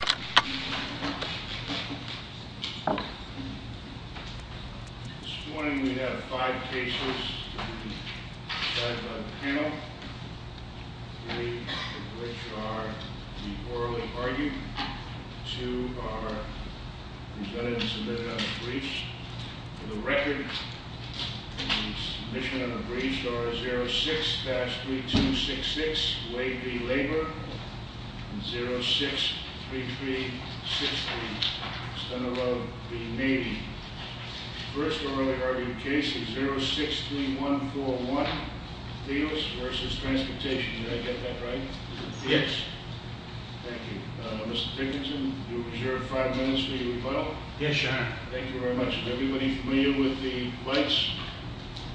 This morning we have five cases to be decided by the panel. Three of which are the orally argued. Two are presented and submitted on a brief. For the record, the submission and the briefs are 06-3266 Wade v. Labor and 06-3363 Estella v. Navy. The first orally argued case is 063141 Theus v. Transportation. Did I get that right? Yes. Thank you. Mr. Dickinson, you are reserved five minutes for your rebuttal. Yes, sir. Thank you very much. Is everybody familiar with the rights?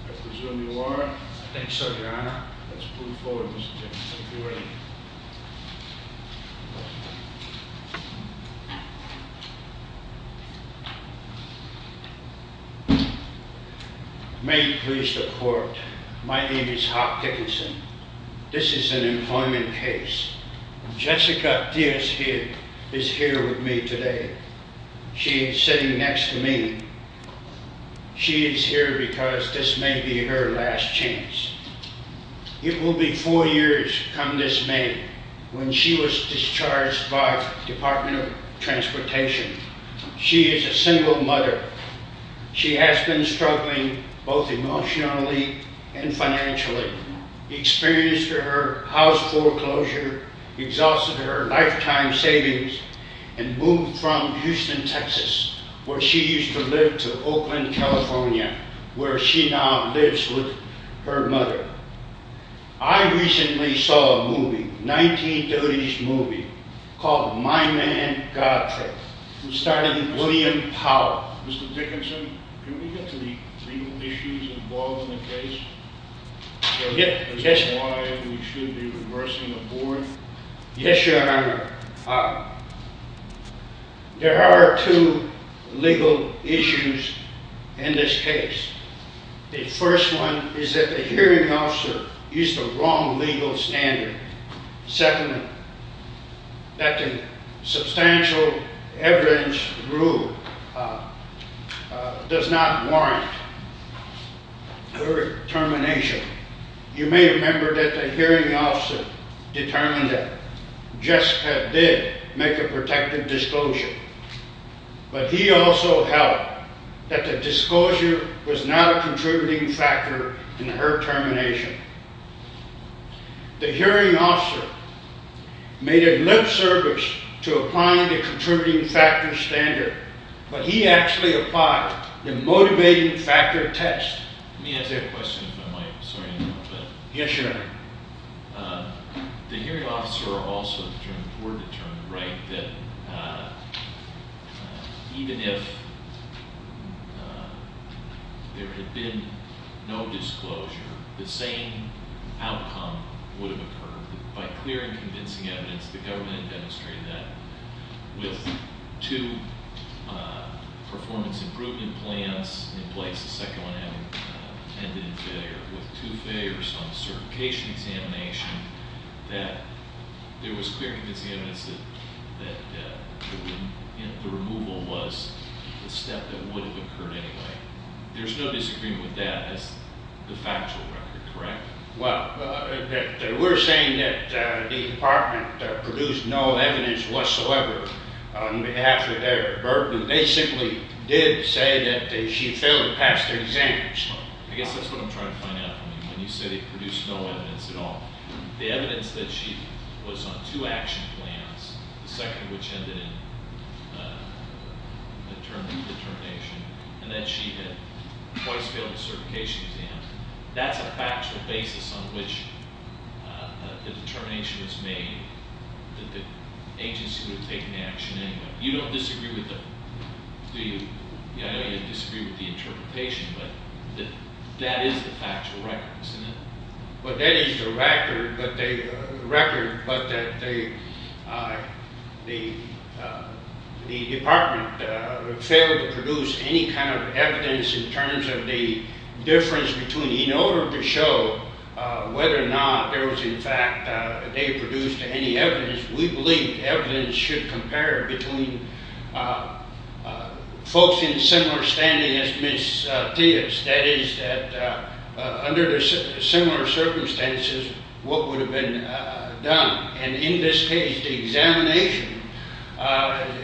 I presume you are. I think so, Your Honor. Let's move forward, Mr. Dickinson. Thank you very much. May it please the Court, my name is Hop Dickinson. This is an employment case. Jessica Theus is here with me today. She is sitting next to me. She is here because this may be her last chance. It will be four years come this May when she was discharged by the Department of Transportation. She is a single mother. She has been struggling both emotionally and financially, experienced her house foreclosure, exhausted her lifetime savings, and moved from Houston, Texas, where she used to live, to Oakland, California, where she now lives with her mother. I recently saw a movie, a 1930s movie, called My Man, God Trap, which starred William Powell. Mr. Dickinson, can we get to the legal issues involved in the case? Yes, Your Honor. Is that why we should be reversing the board? Yes, Your Honor. There are two legal issues in this case. The first one is that the hearing officer used the wrong legal standard. Second, that the substantial evidence rule does not warrant her termination. You may remember that the hearing officer determined that Jessica did make a protective disclosure, but he also held that the disclosure was not a contributing factor in her termination. The hearing officer made a lip service to applying the contributing factor standard, but he actually applied the motivating factor test. Let me ask you a question, if I might. Sorry to interrupt. Yes, Your Honor. The hearing officer also determined, or determined, right, that even if there had been no disclosure, the same outcome would have occurred. By clear and convincing evidence, the government demonstrated that with two performance improvement plans in place, the second one ended in failure, with two failures on the certification examination, that there was clear and convincing evidence that the removal was the step that would have occurred anyway. There's no disagreement with that as the factual record, correct? Well, we're saying that the department produced no evidence whatsoever on behalf of their burden. They simply did say that she had failed to pass the exam. I guess that's what I'm trying to find out. I mean, when you say they produced no evidence at all, the evidence that she was on two action plans, the second of which ended in determination, and that she had twice failed the certification exam, that's a factual basis on which the determination was made that the agency would have taken action anyway. You don't disagree with that, do you? I know you disagree with the interpretation, but that is the factual record, isn't it? Well, that is the record, but the department failed to produce any kind of evidence in terms of the difference between, in order to show whether or not there was in fact, they produced any evidence, we believe evidence should compare between folks in similar standing as Ms. Theis. That is that under similar circumstances, what would have been done. And in this case, the examination,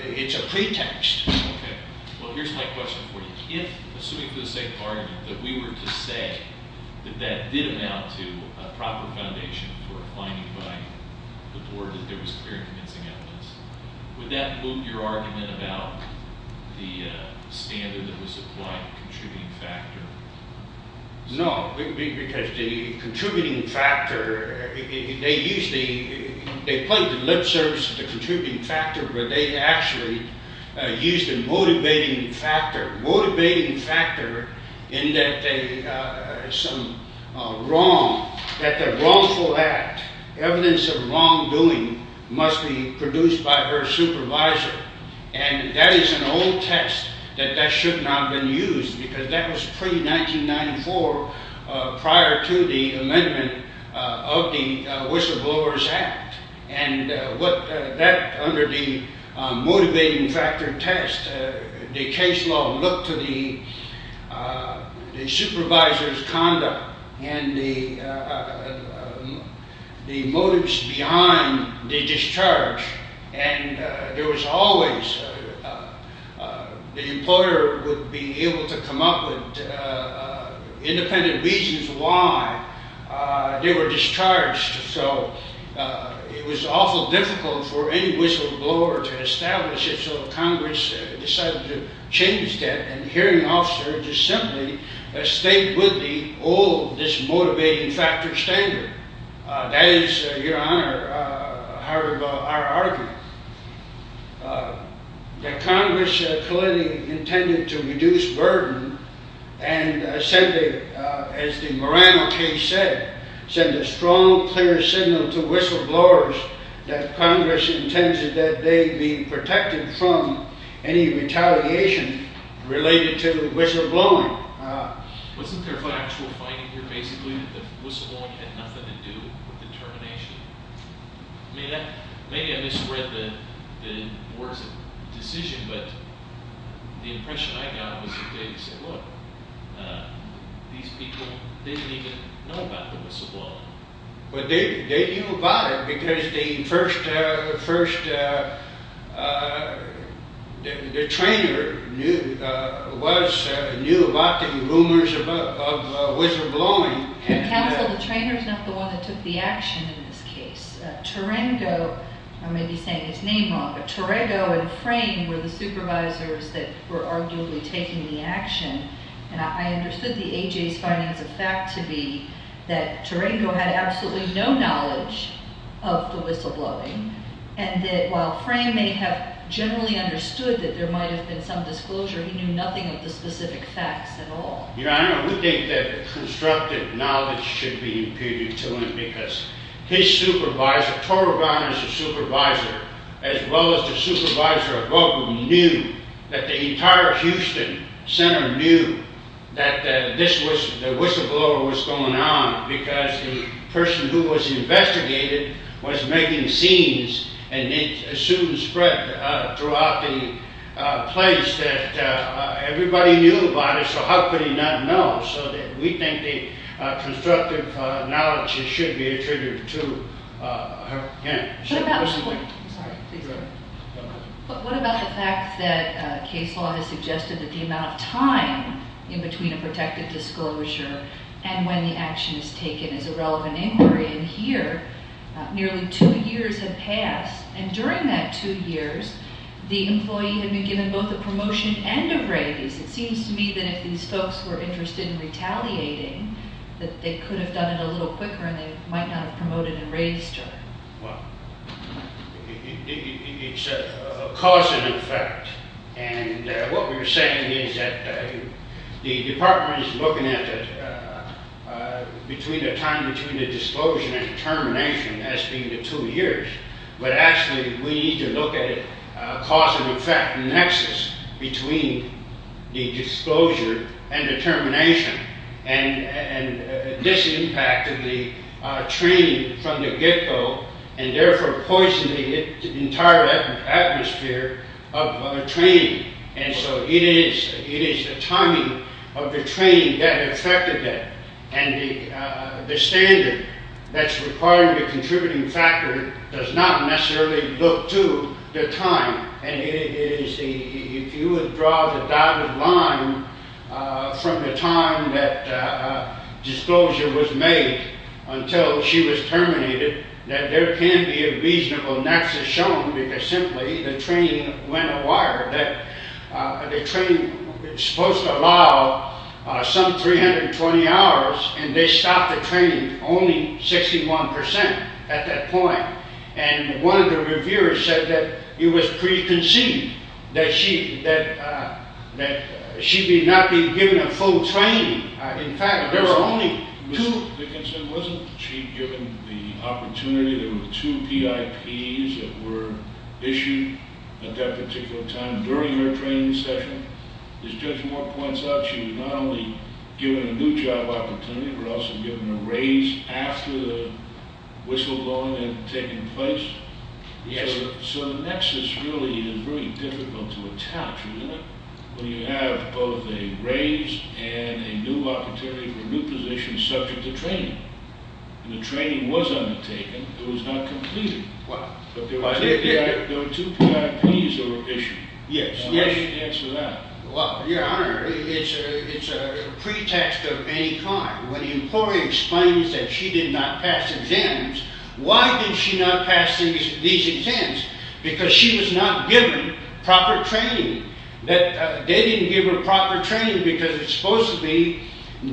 it's a pretext. Okay. Well, here's my question for you. If, assuming for the sake of argument, that we were to say that that did amount to a proper foundation for applying it by the board, that there was clear and convincing evidence, would that loop your argument about the standard that was applied, the contributing factor? No, because the contributing factor, they used the, they played the lip service of the contributing factor, but they actually used the motivating factor, motivating factor in that they, some wrong, that the wrongful act, evidence of wrongdoing, must be produced by her supervisor. And that is an old test, that that should not have been used, because that was pre-1994, prior to the amendment of the Whistleblowers Act. And what that, under the motivating factor test, the case law looked to the supervisor's conduct and the motives behind the discharge. And there was always, the employer would be able to come up with independent reasons why they were discharged. So, it was awful difficult for any whistleblower to establish it, so Congress decided to change that, and the hearing officer just simply stayed with the old, this motivating factor standard. That is, Your Honor, however, our argument. That Congress clearly intended to reduce burden, and said that, as the Morano case said, send a strong clear signal to whistleblowers that Congress intended that they be protected from any retaliation related to whistleblowing. Wasn't there an actual finding here, basically, that the whistleblowing had nothing to do with the termination? Maybe I misread the words of the decision, but the impression I got was that they said, these people didn't even know about the whistleblowing. Well, they knew about it because the first, the trainer knew about the rumors of whistleblowing. Counsel, the trainer's not the one that took the action in this case. Tarengo, I may be saying his name wrong, but Tarengo and Frame were the supervisors that were arguably taking the action, and I understood the A.J.'s findings of fact to be that Tarengo had absolutely no knowledge of the whistleblowing, and that while Frame may have generally understood that there might have been some disclosure, he knew nothing of the specific facts at all. Your Honor, we think that constructive knowledge should be imputed to him because his supervisor, Torrebonner's supervisor, as well as the supervisor above him, knew that the entire Houston Center knew that the whistleblower was going on because the person who was investigated was making scenes, and it soon spread throughout the place that everybody knew about it, so how could he not know? So we think that constructive knowledge should be attributed to him. What about the fact that case law has suggested that the amount of time in between a protected disclosure and when the action is taken is a relevant inquiry, and here nearly two years have passed, and during that two years, the employee had been given both a promotion and a raise. It seems to me that if these folks were interested in retaliating, that they could have done it a little quicker and they might not have promoted and raised him. Well, it's a cause and effect, and what we're saying is that the department is looking at between the time between the disclosure and the termination as being the two years, but actually we need to look at a cause and effect nexus between the disclosure and the termination, and this impacted the training from the get-go and therefore poisoned the entire atmosphere of training, and so it is the timing of the training that affected that, and the standard that's required in the contributing factor does not necessarily look to the time, and if you would draw the dotted line from the time that disclosure was made until she was terminated, that there can be a reasonable nexus shown because simply the training went awry. The training was supposed to allow some 320 hours, and they stopped the training only 61% at that point, and one of the reviewers said that it was preconceived that she be not being given a full training. In fact, there were only two... During her training session, as Judge Moore points out, she was not only given a new job opportunity but also given a raise after the whistleblowing had taken place. Yes, sir. So the nexus really is very difficult to attach, isn't it, when you have both a raise and a new opportunity for a new position subject to training, and the training was undertaken. It was not completed. Wow. But there were two PRPs that were issued. Yes, yes. How do you answer that? Well, Your Honor, it's a pretext of any kind. When the employee explains that she did not pass exams, why did she not pass these exams? Because she was not given proper training. They didn't give her proper training because it's supposed to be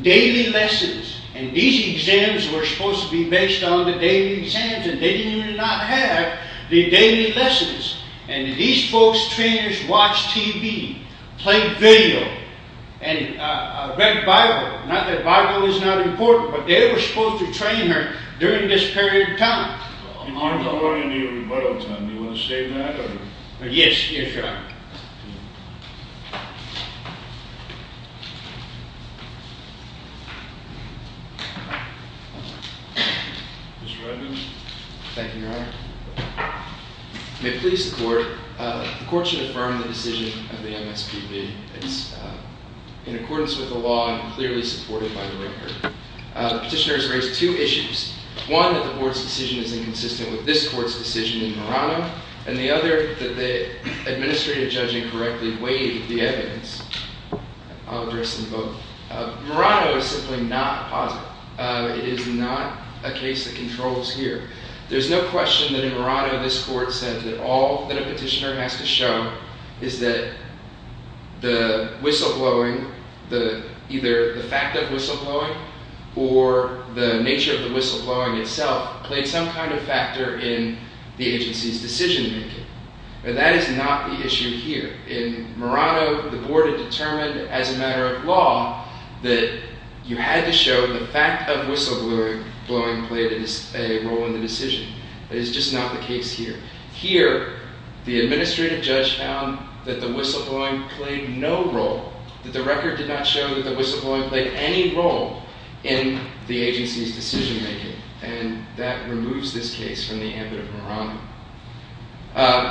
daily lessons, and these exams were supposed to be based on the daily exams, and they did not have the daily lessons. And these folks, trainers, watched TV, played video, and read the Bible. Not that the Bible is not important, but they were supposed to train her during this period of time. In particular, in the rebuttal time, do you want to state that? Yes, Your Honor. Thank you. Mr. Redman? Thank you, Your Honor. May it please the Court. The Court should affirm the decision of the MSPB. It's in accordance with the law and clearly supported by the record. The petitioner has raised two issues. One, that the Board's decision is inconsistent with this Court's decision in Verano, and the other, that the administrative judge incorrectly weighed the evidence. I'll address them both. Verano is simply not positive. It is not a case that controls here. There's no question that in Verano this Court said that all that a petitioner has to show is that the whistleblowing, either the fact of whistleblowing or the nature of the whistleblowing itself, played some kind of factor in the agency's decision-making. But that is not the issue here. In Verano, the Board had determined as a matter of law that you had to show the fact of whistleblowing played a role in the decision. That is just not the case here. Here, the administrative judge found that the whistleblowing played no role, that the record did not show that the whistleblowing played any role in the agency's decision-making. And that removes this case from the ambit of Verano.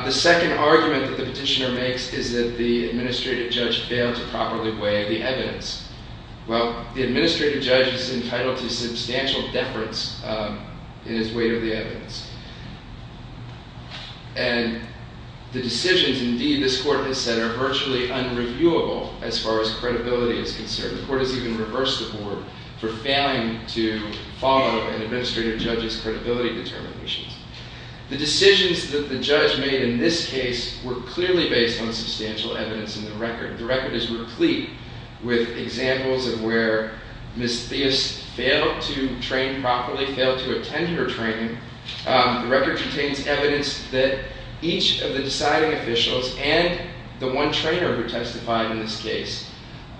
The second argument that the petitioner makes is that the administrative judge failed to properly weigh the evidence. Well, the administrative judge is entitled to substantial deference in his weight of the evidence. And the decisions, indeed, this Court has said are virtually unreviewable as far as credibility is concerned. The Court has even reversed the Board for failing to follow an administrative judge's credibility determinations. The decisions that the judge made in this case were clearly based on substantial evidence in the record. The record is replete with examples of where Ms. Theis failed to train properly, failed to attend her training. The record contains evidence that each of the deciding officials and the one trainer who testified in this case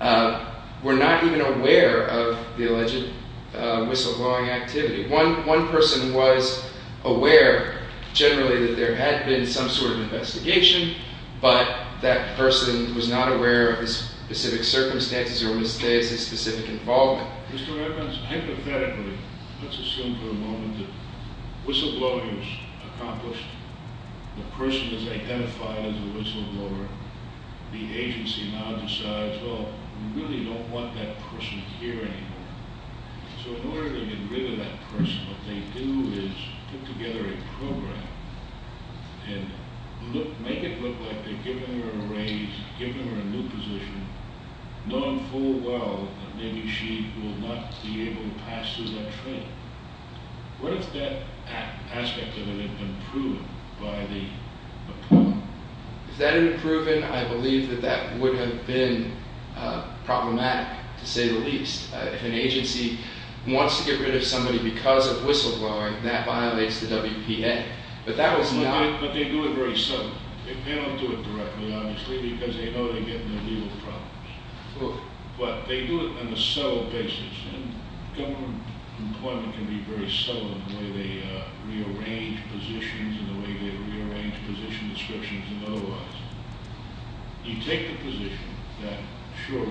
were not even aware of the alleged whistleblowing activity. One person was aware, generally, that there had been some sort of investigation, but that person was not aware of his specific circumstances or Ms. Theis' specific involvement. Mr. Evans, hypothetically, let's assume for a moment that whistleblowing is accomplished. The person is identified as a whistleblower. The agency now decides, well, we really don't want that person here anymore. So in order to get rid of that person, what they do is put together a program and make it look like they're giving her a raise, giving her a new position, known full well that maybe she will not be able to pass through that training. What if that aspect of it had been proven by the opponent? If that had been proven, I believe that that would have been problematic, to say the least. If an agency wants to get rid of somebody because of whistleblowing, that violates the WPA. But that was not- But they do it very subtly. They don't do it directly, obviously, because they know they're getting their legal problems. But they do it on a subtle basis. Government employment can be very subtle in the way they rearrange positions and the way they rearrange position descriptions and otherwise. You take the position that, sure,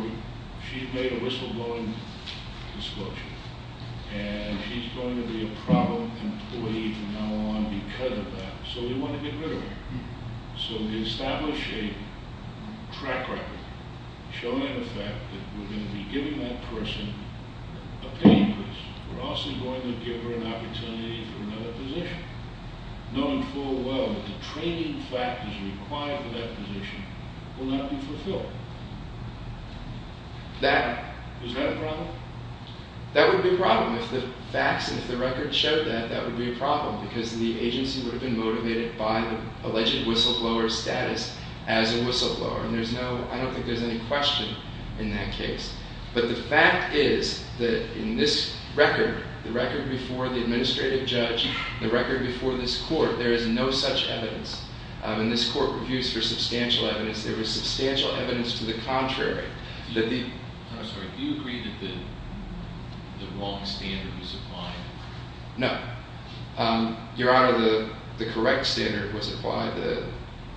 she's made a whistleblowing disclosure, and she's going to be a problem employee from now on because of that, so we want to get rid of her. So we establish a track record showing the fact that we're going to be giving that person a pay increase. We're also going to give her an opportunity for another position, knowing full well that the training factors required for that position will not be fulfilled. Is that a problem? That would be a problem. If the facts, if the record showed that, that would be a problem because the agency would have been motivated by the alleged whistleblower's status as a whistleblower. And there's no- I don't think there's any question in that case. But the fact is that in this record, the record before the administrative judge, the record before this court, there is no such evidence. And this court reviews for substantial evidence. There was substantial evidence to the contrary. I'm sorry. Do you agree that the wrong standard was applied? No. Your Honor, the correct standard was applied.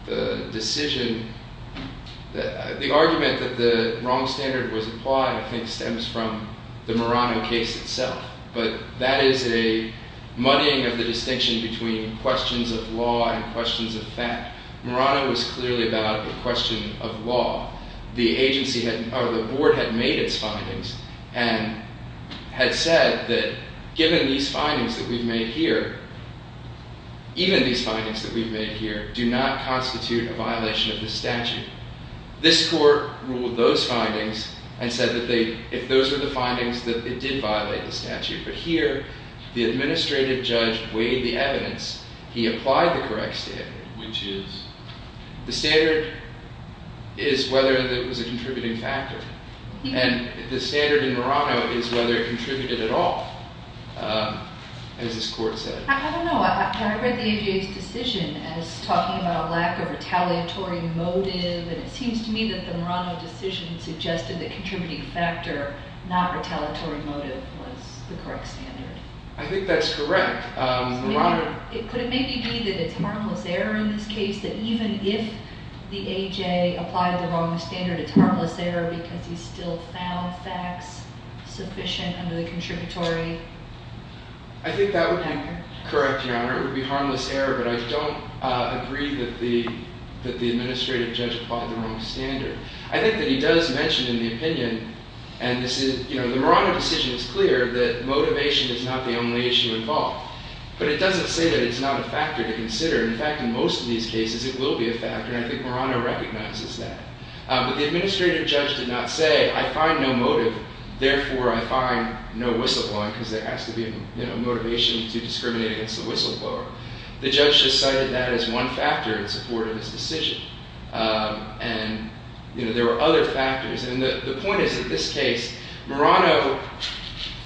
The decision- the argument that the wrong standard was applied, I think, stems from the Murano case itself. But that is a muddying of the distinction between questions of law and questions of fact. Murano was clearly about the question of law. The agency had- or the board had made its findings and had said that given these findings that we've made here, even these findings that we've made here do not constitute a violation of the statute. This court ruled those findings and said that they- if those were the findings, that it did violate the statute. But here, the administrative judge weighed the evidence. He applied the correct standard, which is- the standard is whether it was a contributing factor. And the standard in Murano is whether it contributed at all, as this court said. I don't know. I read the AJA's decision as talking about a lack of retaliatory motive. And it seems to me that the Murano decision suggested that contributing factor, not retaliatory motive, was the correct standard. I think that's correct. Could it maybe be that it's harmless error in this case, that even if the AJA applied the wrong standard, it's harmless error because he still found facts sufficient under the contributory factor? I think that would be correct, Your Honor. It would be harmless error, but I don't agree that the administrative judge applied the wrong standard. I think that he does mention in the opinion, and this is- you know, the Murano decision is clear, that motivation is not the only issue involved. But it doesn't say that it's not a factor to consider. In fact, in most of these cases, it will be a factor, and I think Murano recognizes that. But the administrative judge did not say, I find no motive, therefore I find no whistleblowing because there has to be a motivation to discriminate against the whistleblower. The judge just cited that as one factor in support of his decision. And, you know, there were other factors. And the point is, in this case, Murano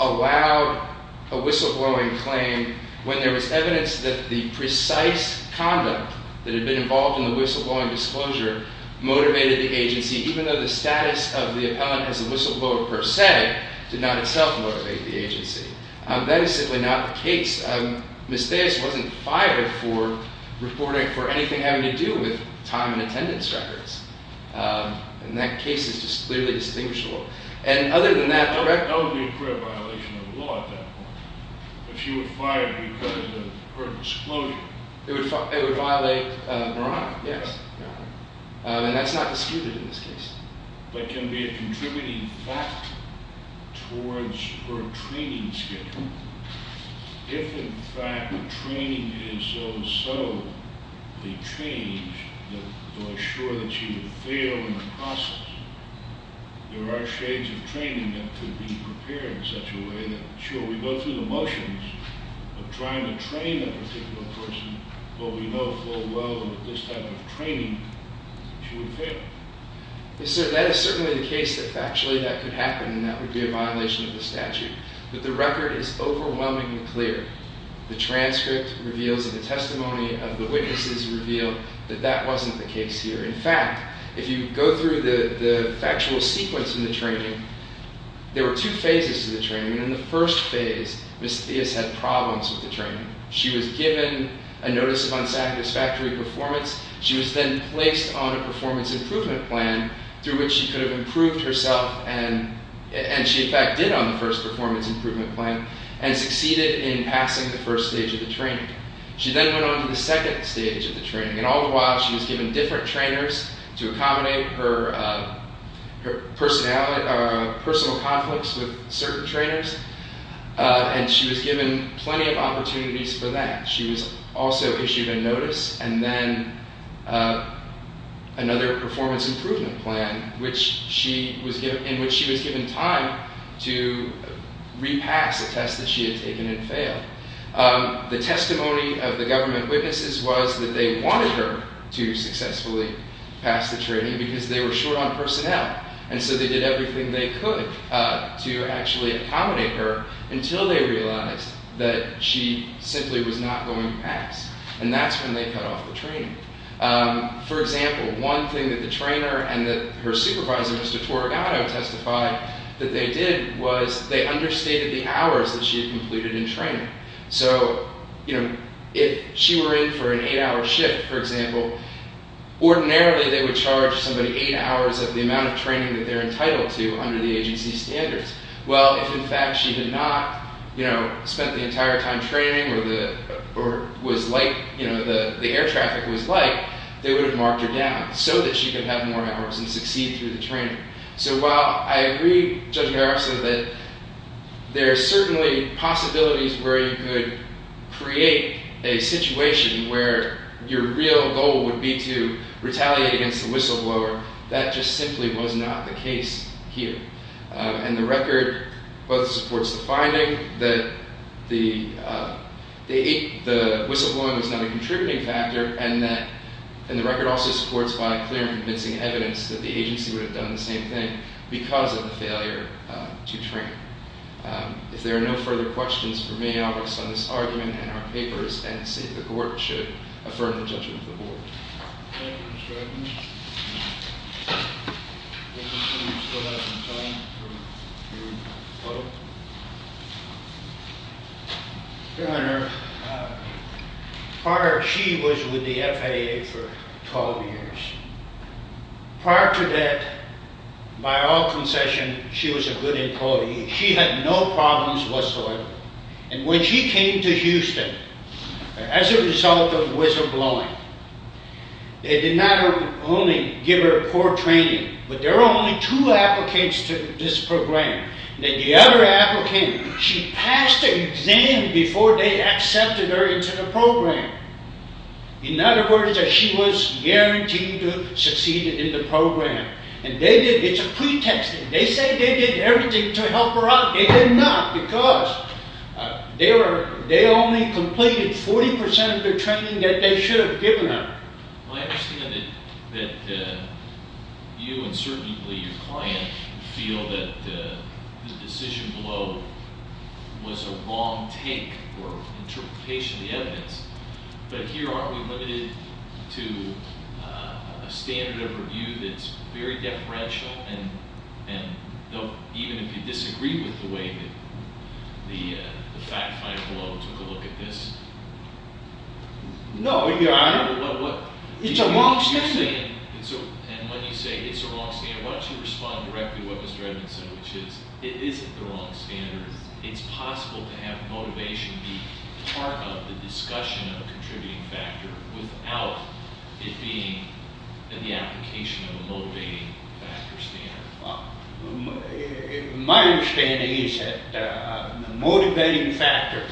allowed a whistleblowing claim when there was evidence that the precise conduct that had been involved in the whistleblowing disclosure motivated the agency, even though the status of the appellant as a whistleblower, per se, did not itself motivate the agency. That is simply not the case. Ms. Theis wasn't fired for reporting for anything having to do with time and attendance records. And that case is just clearly distinguishable. And other than that- That would be a fair violation of the law at that point. If she were fired because of her disclosure. It would violate Murano, yes. And that's not disputed in this case. But it can be a contributing factor towards her training schedule. If, in fact, the training is so subtly changed to assure that she would fail in the process, there are shades of training that could be prepared in such a way that, sure, we go through the motions of trying to train a particular person, but we know full well that this type of training, she would fail. Yes, sir. That is certainly the case that factually that could happen, and that would be a violation of the statute. But the record is overwhelmingly clear. The transcript reveals and the testimony of the witnesses reveal that that wasn't the case here. In fact, if you go through the factual sequence in the training, there were two phases to the training. She was given a notice of unsatisfactory performance. She was then placed on a performance improvement plan through which she could have improved herself. And she, in fact, did on the first performance improvement plan and succeeded in passing the first stage of the training. She then went on to the second stage of the training. And all the while, she was given different trainers to accommodate her personal conflicts with certain trainers. And she was given plenty of opportunities for that. She was also issued a notice and then another performance improvement plan, in which she was given time to repass a test that she had taken and failed. The testimony of the government witnesses was that they wanted her to successfully pass the training because they were short on personnel. And so they did everything they could to actually accommodate her until they realized that she simply was not going to pass. And that's when they cut off the training. For example, one thing that the trainer and her supervisor, Mr. Torregato, testified that they did was they understated the hours that she had completed in training. So, you know, if she were in for an eight-hour shift, for example, ordinarily they would charge somebody eight hours of the amount of training that they're entitled to under the agency's standards. Well, if in fact she had not, you know, spent the entire time training or was light, you know, the air traffic was light, they would have marked her down so that she could have more hours and succeed through the training. So while I agree, Judge Garopso, that there are certainly possibilities where you could create a situation where your real goal would be to retaliate against the whistleblower, that just simply was not the case here. And the record both supports the finding that the whistleblowing was not a contributing factor and the record also supports by clear and convincing evidence that the agency would have done the same thing because of the failure to train. If there are no further questions for me, I'll rest on this argument and our papers and see if the court should affirm the judgment of the board. Your Honor, prior she was with the FAA for 12 years. Prior to that, by all concession, she was a good employee. She had no problems whatsoever. And when she came to Houston as a result of whistleblowing, they did not only give her poor training, but there were only two applicants to this program. The other applicant, she passed the exam before they accepted her into the program. In other words, she was guaranteed to succeed in the program. It's a pretext. They say they did everything to help her out. They did not because they only completed 40 percent of the training that they should have given her. I understand that you and certainly your client feel that the decision below was a wrong take or interpretation of the evidence. But here aren't we limited to a standard of review that's very deferential? And even if you disagree with the way that the fact finder below took a look at this? No, Your Honor. It's a wrong standard. And when you say it's a wrong standard, why don't you respond directly to what Mr. Edmonds said, which is it isn't the wrong standard. It's possible to have motivation be part of the discussion of a contributing factor without it being in the application of a motivating factor standard. My understanding is that the motivating factor,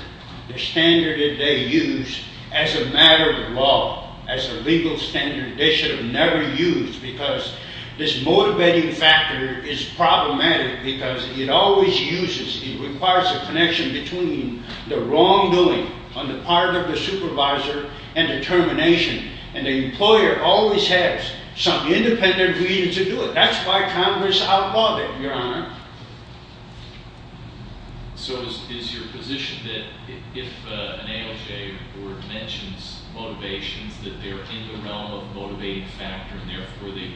the standard that they use as a matter of law, as a legal standard, they should have never used because this motivating factor is problematic because it always uses, it requires a connection between the wrongdoing on the part of the supervisor and the termination. And the employer always has some independent reason to do it. That's why Congress outlawed it, Your Honor. So is your position that if an ALJ board mentions motivations, that they're in the realm of the motivating factor and therefore they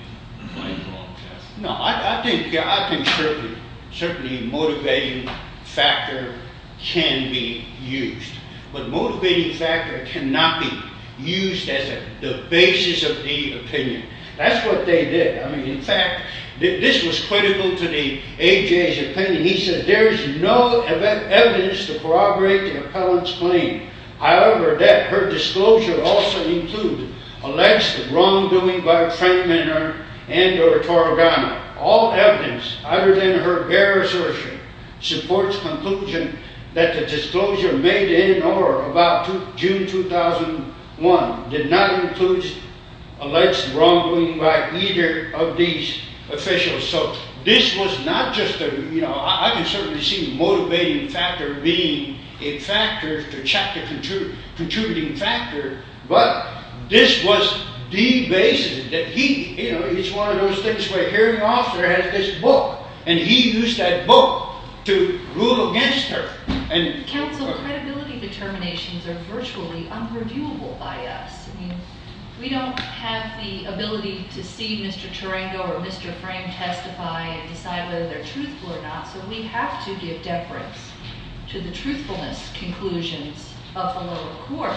claim the wrong test? No, I think certainly a motivating factor can be used. But a motivating factor cannot be used as the basis of the opinion. That's what they did. I mean, in fact, this was critical to the ALJ's opinion. He said there is no evidence to corroborate the appellant's claim. However, that her disclosure also includes alleged wrongdoing by a train-mender and or a torogano. All evidence other than her barristership supports conclusion that the disclosure made in or about June 2001 did not include alleged wrongdoing by either of these officials. So this was not just a, you know, I can certainly see a motivating factor being a factor, the chapter contributing factor, but this was the basis that he, you know, it's one of those things where a hearing officer has this book and he used that book to rule against her. Counsel, credibility determinations are virtually unreviewable by us. I mean, we don't have the ability to see Mr. Turengo or Mr. Frame testify and decide whether they're truthful or not. So we have to give deference to the truthfulness conclusions of the lower court.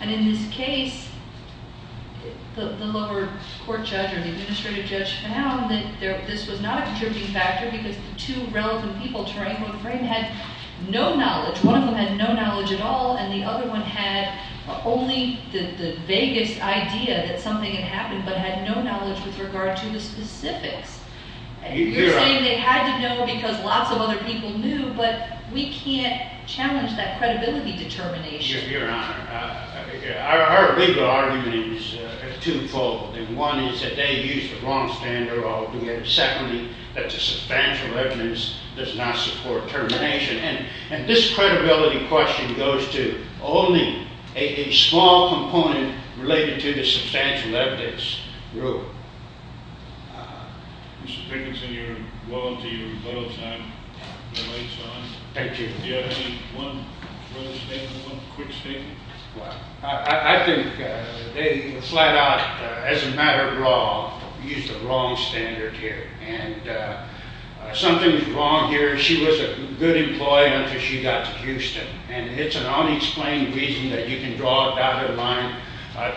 And in this case, the lower court judge or the administrative judge found that this was not a contributing factor because the two relevant people, Turengo and Frame, had no knowledge. One of them had no knowledge at all, and the other one had only the vaguest idea that something had happened but had no knowledge with regard to the specifics. You're saying they had to know because lots of other people knew, but we can't challenge that credibility determination. Your Honor, our legal argument is twofold. One is that they used the wrong standard of doing it. Secondly, that the substantial evidence does not support termination. And this credibility question goes to only a small component related to the substantial evidence rule. Mr. Dickinson, you're welcome to use your little time. Thank you. Do you have any one final statement, one quick statement? Well, I think they flat out, as a matter of law, used the wrong standard here. And something's wrong here. She was a good employee until she got to Houston, and it's an unexplained reason that you can draw it out of line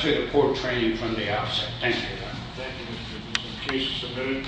to the court training from the outset. Thank you. Thank you, Mr. Dickinson. Case is submitted.